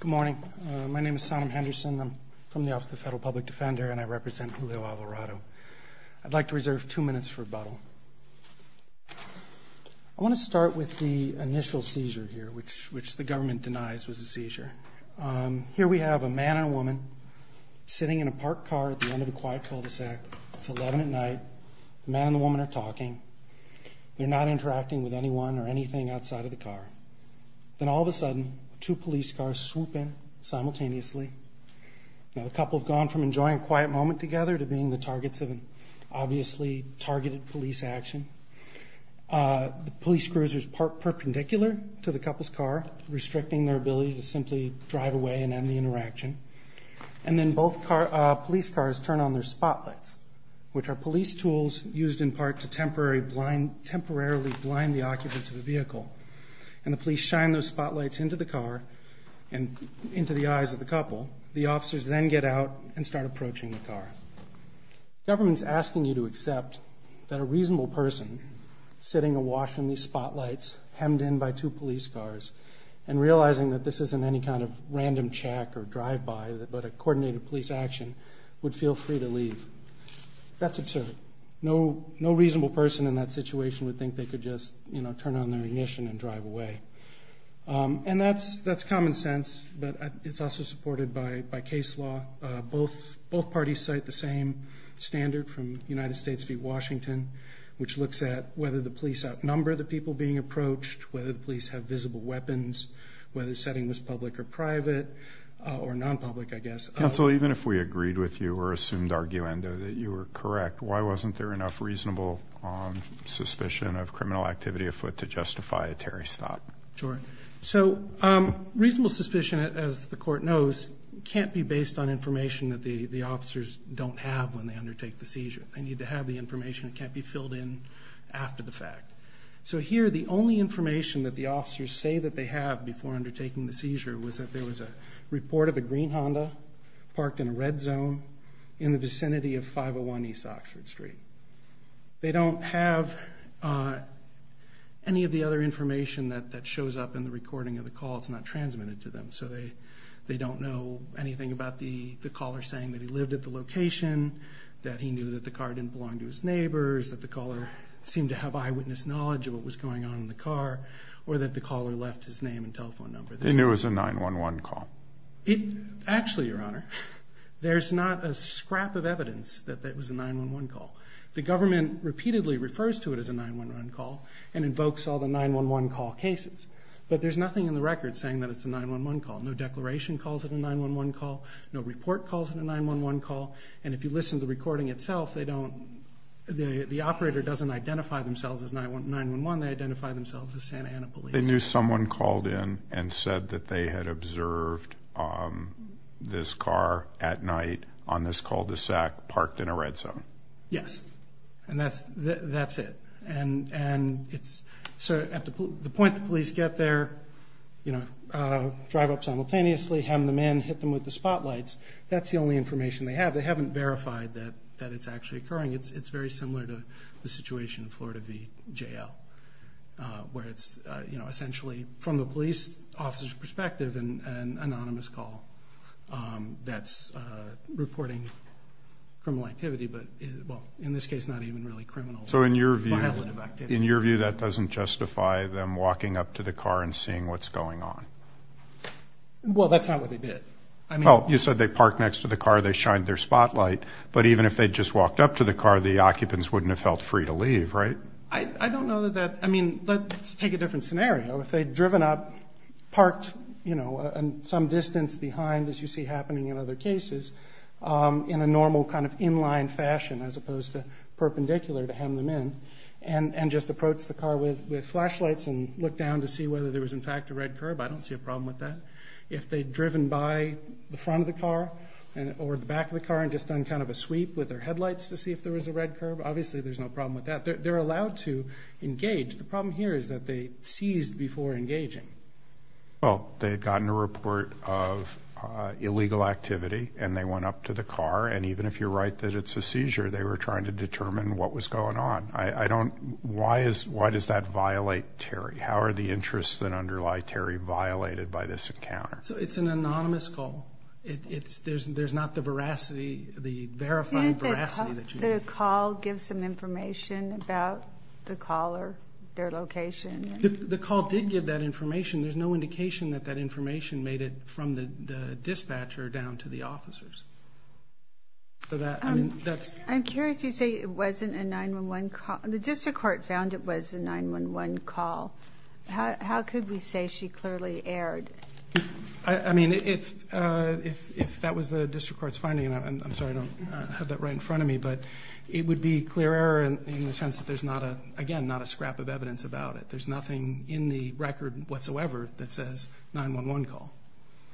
Good morning. My name is Sonam Henderson. I'm from the Office of the Federal Public Defender and I represent Julio Alvarado. I'd like to reserve two minutes for rebuttal. I want to start with the initial seizure here, which the government denies was a seizure. Here we have a man and a woman sitting in a parked car at the end of a quiet cul-de-sac. It's 11 at night. The man and the woman are talking. They're not interacting with anyone or anything outside of the car. Then all of a sudden, two police cars swoop in simultaneously. Now the couple have gone from enjoying a quiet moment together to being the targets of an obviously targeted police action. The police cruiser is parked perpendicular to the couple's car, restricting their ability to simply drive away and end the interaction. And then both police cars turn on their spotlights, which are police tools used in part to temporarily blind the occupants of the vehicle. And the police shine those spotlights into the car and into the eyes of the couple. The officers then get out and start approaching the car. Government's asking you to accept that a reasonable person sitting awash in these spotlights, hemmed in by two police cars, and realizing that this isn't any kind of random check or drive-by, but a coordinated police action, would feel free to leave. That's absurd. No reasonable person in that situation would think they could just, you know, turn on their ignition and drive away. And that's common sense, but it's also supported by case law. Both parties cite the same standard from United States v. Washington, which looks at whether the police outnumber the people being approached, whether the police have visible weapons, whether the setting was public or private, or non-public, I guess. Counsel, even if we agreed with you or assumed arguendo that you were correct, why wasn't there enough reasonable suspicion of criminal activity afoot to justify a Terry's thought? Sure. So, reasonable suspicion, as the court knows, can't be based on information that the the officers don't have when they undertake the seizure. They need to have the information. It can't be filled in after the fact. So here, the only information that the officers say that they have before undertaking the seizure was that there was a report of a green Honda parked in a red zone in the vicinity of 501 East Oxford Street. They don't have any of the other information that shows up in the recording of the call. It's not transmitted to them. So they don't know anything about the caller saying that he lived at the location, that he knew that the car didn't belong to his neighbors, that the caller seemed to have eyewitness knowledge of what was going on in the car, or that the caller left his name and telephone number. They knew it was a 911 call. Actually, Your Honor, there's not a scrap of evidence that it was a 911 call. The government repeatedly refers to it as a 911 call and invokes all the 911 call cases. But there's nothing in the record saying that it's a 911 call. No declaration calls it a 911 call. No report calls it a 911 call. And if you listen to the recording itself, they don't, the operator doesn't identify themselves as 911. They identify themselves as Santa Ana police. They knew someone called in and said that they had observed this car at night on this cul-de-sac parked in a red zone? Yes. And that's it. And so at the point the police get there, you know, drive up simultaneously, hem them in, hit them with the spotlights, that's the only information they have. They haven't verified that it's actually occurring. It's very similar to the situation in Florida v. JL, where it's, you know, essentially, from the police officer's perspective, an anonymous call that's reporting criminal activity, but in this case, not even really criminal. So in your view, in your view, that doesn't justify them walking up to the car and seeing what's going on? Well, that's not what they did. Well, you said they parked next to the car, they shined their spotlight, but even if they just walked up to the car, the occupants wouldn't have felt free to leave, right? I don't know that that, I mean, let's take a different scenario. If they'd driven up, parked, you know, some distance behind, as you see happening in other cases, in a normal kind of inline fashion, as opposed to perpendicular, to hem them in, and just approach the car with flashlights and look down to see whether there was in fact a red curb, I don't see a problem with that. If they'd driven by the front of the car or the back of the car and just done kind of a sweep with their headlights to see if there was a red curb, obviously there's no problem with that. They're allowed to engage. The problem here is that they seized before engaging. Well, they had gotten a report of illegal activity and they went up to the car, and even if you're right that it's a seizure, they were trying to determine what was going on. I don't, why is, why does that violate Terry? How are the interests that underlie Terry violated by this encounter? So it's an veracity, the verifying veracity. Didn't the call give some information about the caller, their location? The call did give that information. There's no indication that that information made it from the dispatcher down to the officers. So that, I mean, that's. I'm curious, you say it wasn't a 9-1-1 call. The district court found it was a 9-1-1 call. How could we say she clearly erred? I mean, if that was the district court's finding, and I'm sorry I don't have that right in front of me, but it would be clear error in the sense that there's not a, again, not a scrap of evidence about it. There's nothing in the record whatsoever that says 9-1-1 call.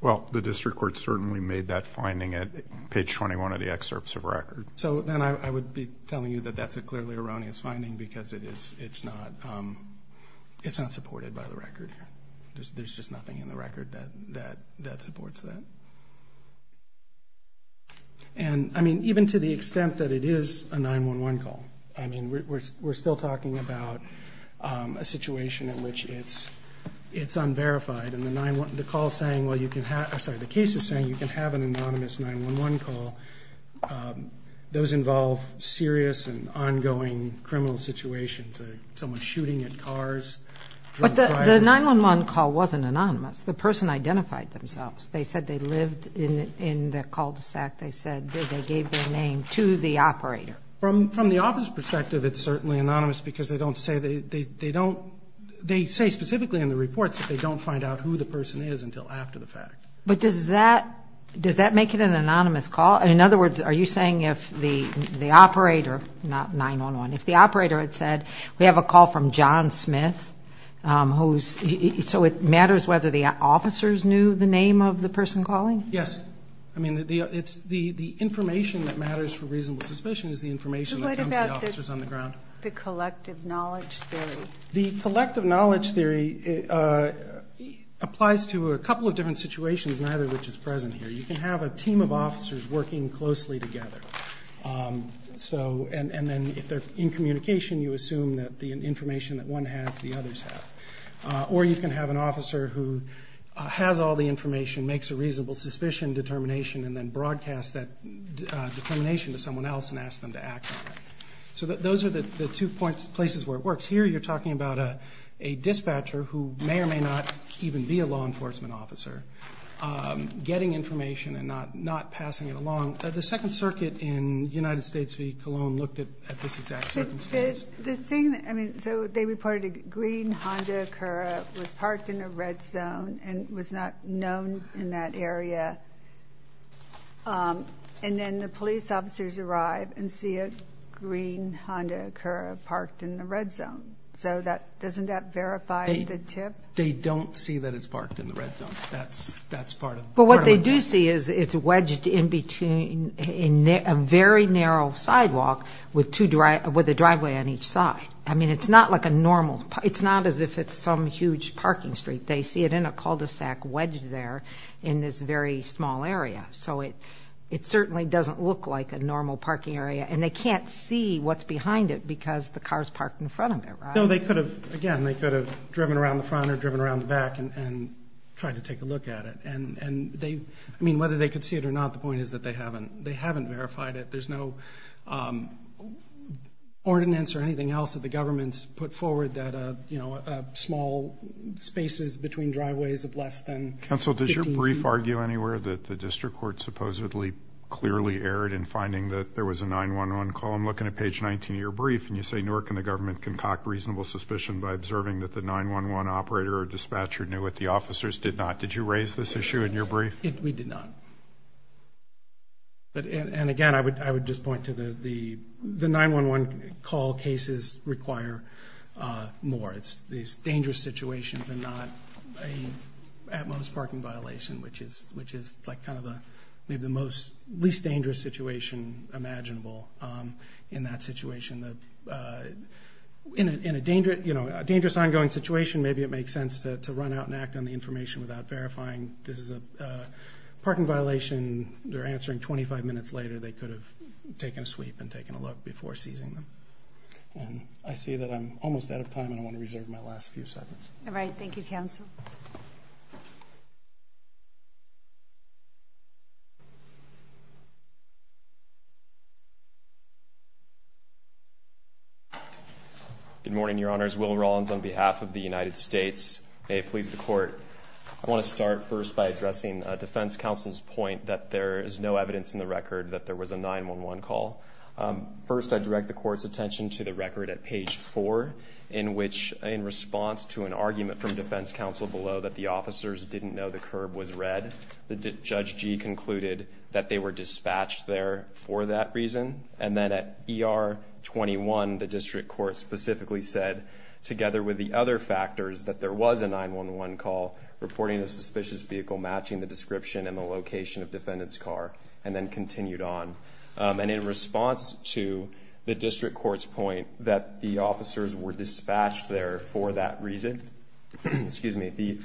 Well, the district court certainly made that finding at page 21 of the excerpts of record. So then I would be telling you that that's a clearly erroneous finding because it is, it's not, it's not supported by the record here. There's just nothing in the record that, that, that supports that. And, I mean, even to the extent that it is a 9-1-1 call, I mean, we're, we're still talking about a situation in which it's, it's unverified. And the 9-1, the call's saying, well, you can have, I'm sorry, the case is saying you can have an anonymous 9-1-1 call. Those involve serious and ongoing criminal situations, someone shooting at cars, drunk driving. But the, the 9-1-1 call wasn't anonymous. The person identified themselves. They said they lived in, in the cul-de-sac. They said they gave their name to the operator. From, from the office perspective, it's certainly anonymous because they don't say they, they, they don't, they say specifically in the reports that they don't find out who the person is until after the fact. But does that, does that make it an anonymous call? In other words, are you saying if the, the operator, not 9-1-1, if the operator had said we have a call from John Yes. I mean, the, it's, the, the information that matters for reasonable suspicion is the information that comes to the officers on the ground. But what about the collective knowledge theory? The collective knowledge theory applies to a couple of different situations, neither of which is present here. You can have a team of officers working closely together, so, and, and then if they're in communication, you assume that the information that one has, the others have. Or you can have an officer who has all the information, makes a reasonable suspicion determination, and then broadcast that determination to someone else and ask them to act on it. So that, those are the, the two points, places where it works. Here you're talking about a, a dispatcher who may or may not even be a law enforcement officer, getting information and not, not passing it along. The Second Circuit in United States v. Cologne looked at, at this exact circumstance. The thing, I mean, so they reported a green Honda Acura was parked in a red zone and was not known in that area. And then the police officers arrive and see a green Honda Acura parked in the red zone. So that, doesn't that verify the tip? They don't see that it's parked in the red zone. That's, that's part of it. But what they do see is it's wedged in between, in a very narrow sidewalk with two drive, with a driveway on each side. I mean, it's not like a normal, it's not as if it's some huge parking street. They see it in a cul-de-sac wedged there in this very small area. So it, it certainly doesn't look like a normal parking area and they can't see what's behind it because the car's parked in front of it, right? No, they could have, again, they could have driven around the front or driven around the back and, and tried to take a look at it. And, and they, I mean, whether they could see it or not, the point is that they haven't, they haven't verified it. There's no ordinance or anything else that the government's put forward that, you know, small spaces between driveways of less than 15 feet. Counsel, does your brief argue anywhere that the district court supposedly clearly erred in finding that there was a 9-1-1 call? I'm looking at page 19 of your brief and you say, nor can the government concoct reasonable suspicion by observing that the 9-1-1 operator or dispatcher knew what the officers did not. Did you raise this issue in your brief? We did not. But, and, and again, I would, I would just point to the, the, the 9-1-1 call cases require more. It's these dangerous situations and not a, at most, parking violation, which is, which is like kind of a, maybe the most, least dangerous situation imaginable in that situation. The, in a, in a dangerous, you know, a dangerous ongoing situation, maybe it makes sense to, to run out and act on the information without verifying this is a parking violation. They're answering 25 minutes later, they could have taken a sweep and taken a look before seizing them. And I see that I'm almost out of time and I want to reserve my last few seconds. All right, thank you, counsel. Good morning, your honors. Will Rollins on behalf of the United States. May it please the court. I want to start first by addressing defense counsel's point that there is no evidence in the record that there was a 9-1-1 call. First, I direct the court's attention to the record at page four, in which, in response to an argument from defense counsel below that the officers didn't know the curb was red, Judge G concluded that they were dispatched there for that reason, and then at ER 21, the district court specifically said, together with the other factors, that there was a 9-1-1 call, reporting a suspicious vehicle matching the description and the location of defendant's car, and then continued on. And in response to the district court's point that the officers were dispatched there for that reason, excuse me, the,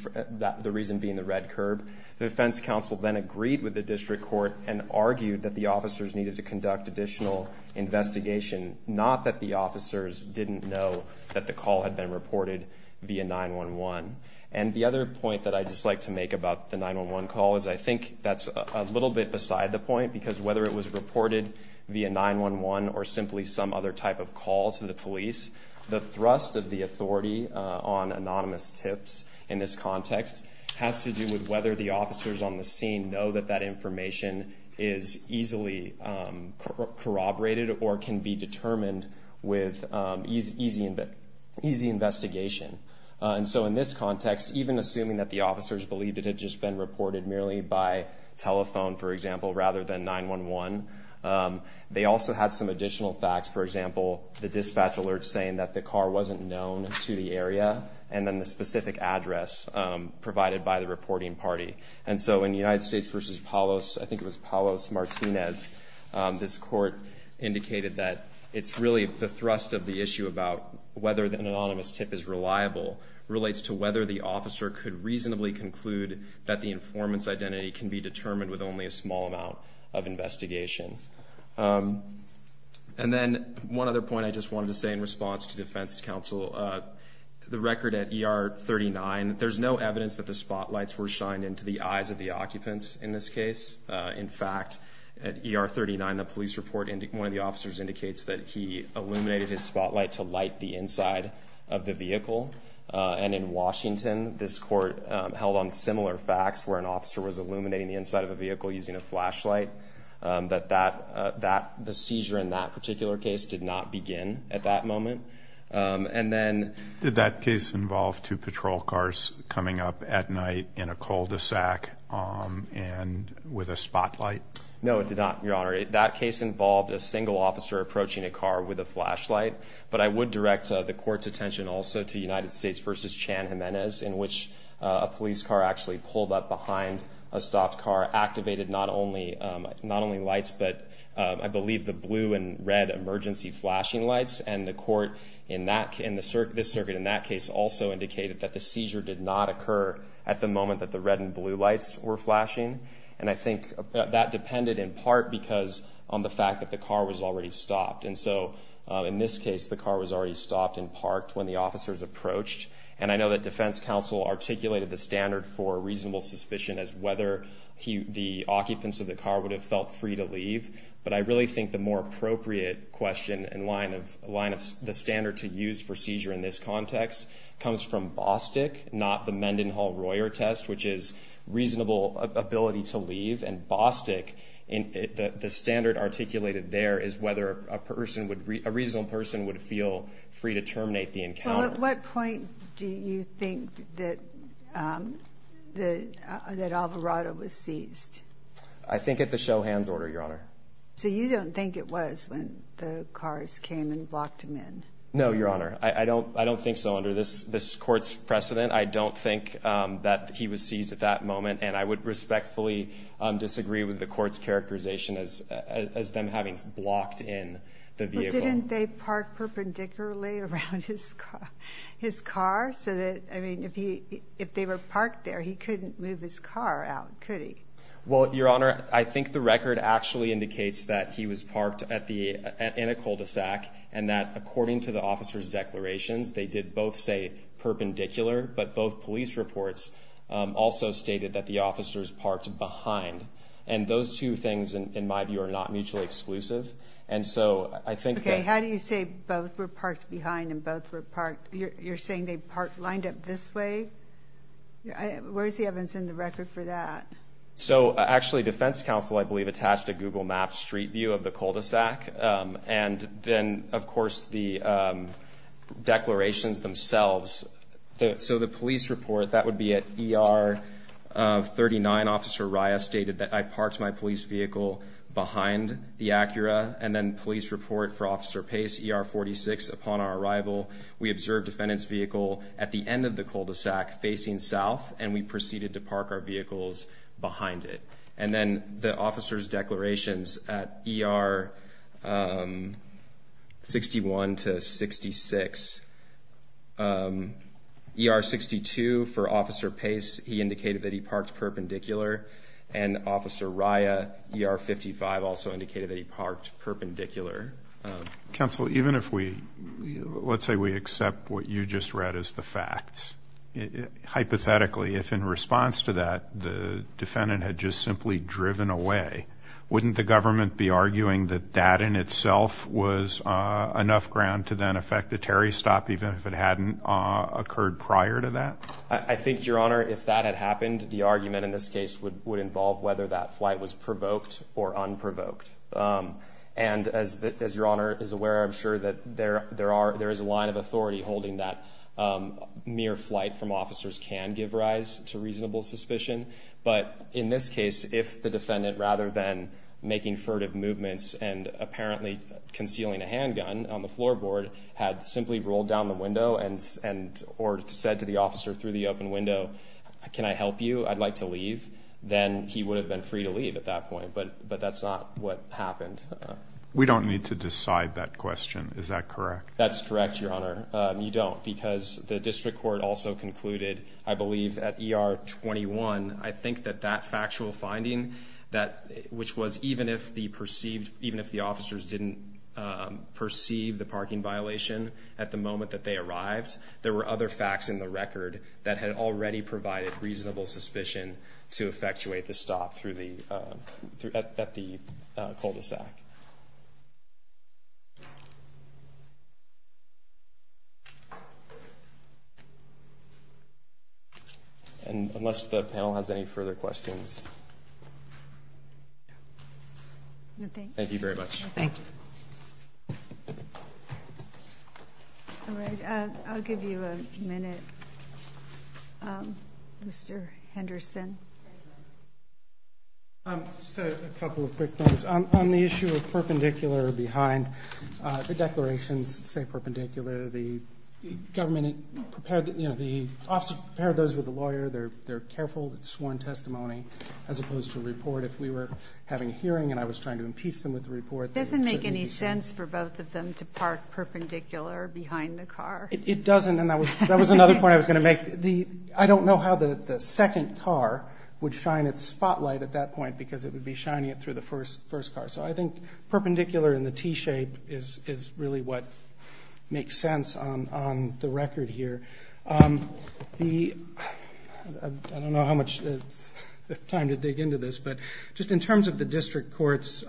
the reason being the red curb. The defense counsel then agreed with the district court and argued that the officers needed to conduct additional investigation. Not that the officers didn't know that the call had been reported via 9-1-1. And the other point that I'd just like to make about the 9-1-1 call is, I think that's a little bit beside the point, because whether it was reported via 9-1-1 or simply some other type of call to the police, the thrust of the authority on anonymous tips in this context has to do with whether the officers on the scene know that that information is easily corroborated or can be determined with easy investigation. And so in this context, even assuming that the officers believed it had just been reported merely by telephone, for example, rather than 9-1-1. They also had some additional facts. For example, the dispatch alert saying that the car wasn't known to the area. And then the specific address provided by the reporting party. And so in United States versus Palos, I think it was Palos Martinez, this court indicated that it's really the thrust of the issue about whether an anonymous tip is reliable relates to whether the officer could reasonably conclude that the informant's identity can be determined with only a small amount of investigation. And then one other point I just wanted to say in response to defense counsel. The record at ER 39, there's no evidence that the spotlights were shined into the eyes of the occupants in this case. In fact, at ER 39, the police report, one of the officers indicates that he illuminated his spotlight to light the inside of the vehicle. And in Washington, this court held on similar facts, where an officer was illuminating the inside of a vehicle using a flashlight. But the seizure in that particular case did not begin at that moment. And then- Did that case involve two patrol cars coming up at night in a cul-de-sac and with a spotlight? No, it did not, Your Honor. That case involved a single officer approaching a car with a flashlight. But I would direct the court's attention also to United States versus Chan Jimenez, in which a police car actually pulled up behind a stopped car, activated not only lights, but I believe the blue and red emergency flashing lights. And the court in this circuit in that case also indicated that the seizure did not occur at the moment that the red and blue lights were flashing. And I think that depended in part because on the fact that the car was already stopped. And so in this case, the car was already stopped and parked when the officers approached. And I know that defense counsel articulated the standard for reasonable suspicion as whether the occupants of the car would have felt free to leave. But I really think the more appropriate question in line of the standard to use for seizure in this context comes from Bostick, not the Mendenhall-Royer test, which is reasonable ability to leave. And Bostick, the standard articulated there is whether a reasonable person would feel free to terminate the encounter. Well, at what point do you think that Alvarado was seized? I think at the show hands order, Your Honor. So you don't think it was when the cars came and blocked him in? No, Your Honor. I don't think so under this court's precedent. I don't think that he was seized at that moment. And I would respectfully disagree with the court's characterization as them having blocked in the vehicle. Well, didn't they park perpendicularly around his car? So that, I mean, if they were parked there, he couldn't move his car out, could he? Well, Your Honor, I think the record actually indicates that he was parked in a cul-de-sac, and that according to the officer's declarations, they did both say perpendicular, but both police reports also stated that the officers parked behind. And those two things, in my view, are not mutually exclusive. And so I think that- Okay, how do you say both were parked behind and both were parked? You're saying they parked lined up this way? Where's the evidence in the record for that? So actually, defense counsel, I believe, attached a Google Maps street view of the cul-de-sac. And then, of course, the declarations themselves. So the police report, that would be at ER 39, Officer Rias stated that, I parked my police vehicle behind the Acura. And then police report for Officer Pace, ER 46, upon our arrival, we observed defendant's vehicle at the end of the cul-de-sac, facing south, and we proceeded to park our vehicles behind it. And then the officer's declarations at ER 61 to 66. ER 62 for Officer Pace, he indicated that he parked perpendicular. And Officer Ria, ER 55, also indicated that he parked perpendicular. Counsel, even if we, let's say we accept what you just read as the facts, hypothetically, if in response to that, the defendant had just simply driven away, wouldn't the government be arguing that that in itself was enough ground to then affect the Terry stop, even if it hadn't occurred prior to that? I think, Your Honor, if that had happened, the argument in this case would involve whether that flight was provoked or unprovoked. And as Your Honor is aware, I'm sure that there is a line of authority holding that mere flight from officers can give rise to reasonable suspicion. But in this case, if the defendant, rather than making furtive movements and apparently concealing a handgun on the floorboard, had simply rolled down the window and or said to the officer through the open window, can I help you? I'd like to leave. Then he would have been free to leave at that point. But that's not what happened. We don't need to decide that question. Is that correct? That's correct, Your Honor. You don't, because the district court also concluded, I believe, at ER 21, I think that that factual finding, which was even if the officers didn't perceive the parking violation at the moment that they arrived, there were other facts in the record that had already provided reasonable suspicion to effectuate the stop at the cul-de-sac. And unless the panel has any further questions. Thank you very much. Thank you. All right, I'll give you a minute, Mr. Henderson. Just a couple of quick notes. On the issue of perpendicular or behind, the declarations say perpendicular. The government prepared, you know, the officer prepared those with the lawyer. They're careful. It's sworn testimony, as opposed to a report. If we were having a hearing and I was trying to impeach them with a report, it doesn't make any sense for both of them to park perpendicular behind the car. It doesn't. And that was another point I was going to make. I don't know how the second car would shine its spotlight at that point, because it would be shining it through the first car. So I think perpendicular in the T-shape is really what makes sense on the record here. I don't know how much time to dig into this, but just in terms of the district court's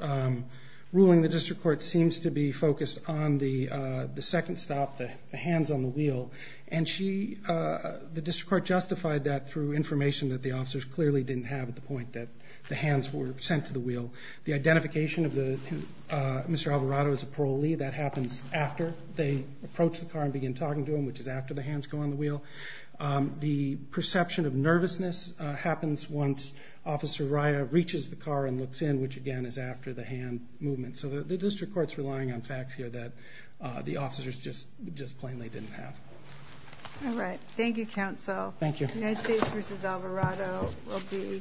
ruling, the district court seems to be focused on the second stop, the hands on the wheel. And the district court justified that through information that the officers clearly didn't have at the point that the hands were sent to the wheel. The identification of Mr. Alvarado as a parolee, that happens after they approach the car and begin talking to him, which is after the hands go on the wheel. The perception of nervousness happens once Officer Raya reaches the car and again is after the hand movement. So the district court's relying on facts here that the officers just plainly didn't have. All right. Thank you, counsel. Thank you. United States versus Alvarado will be.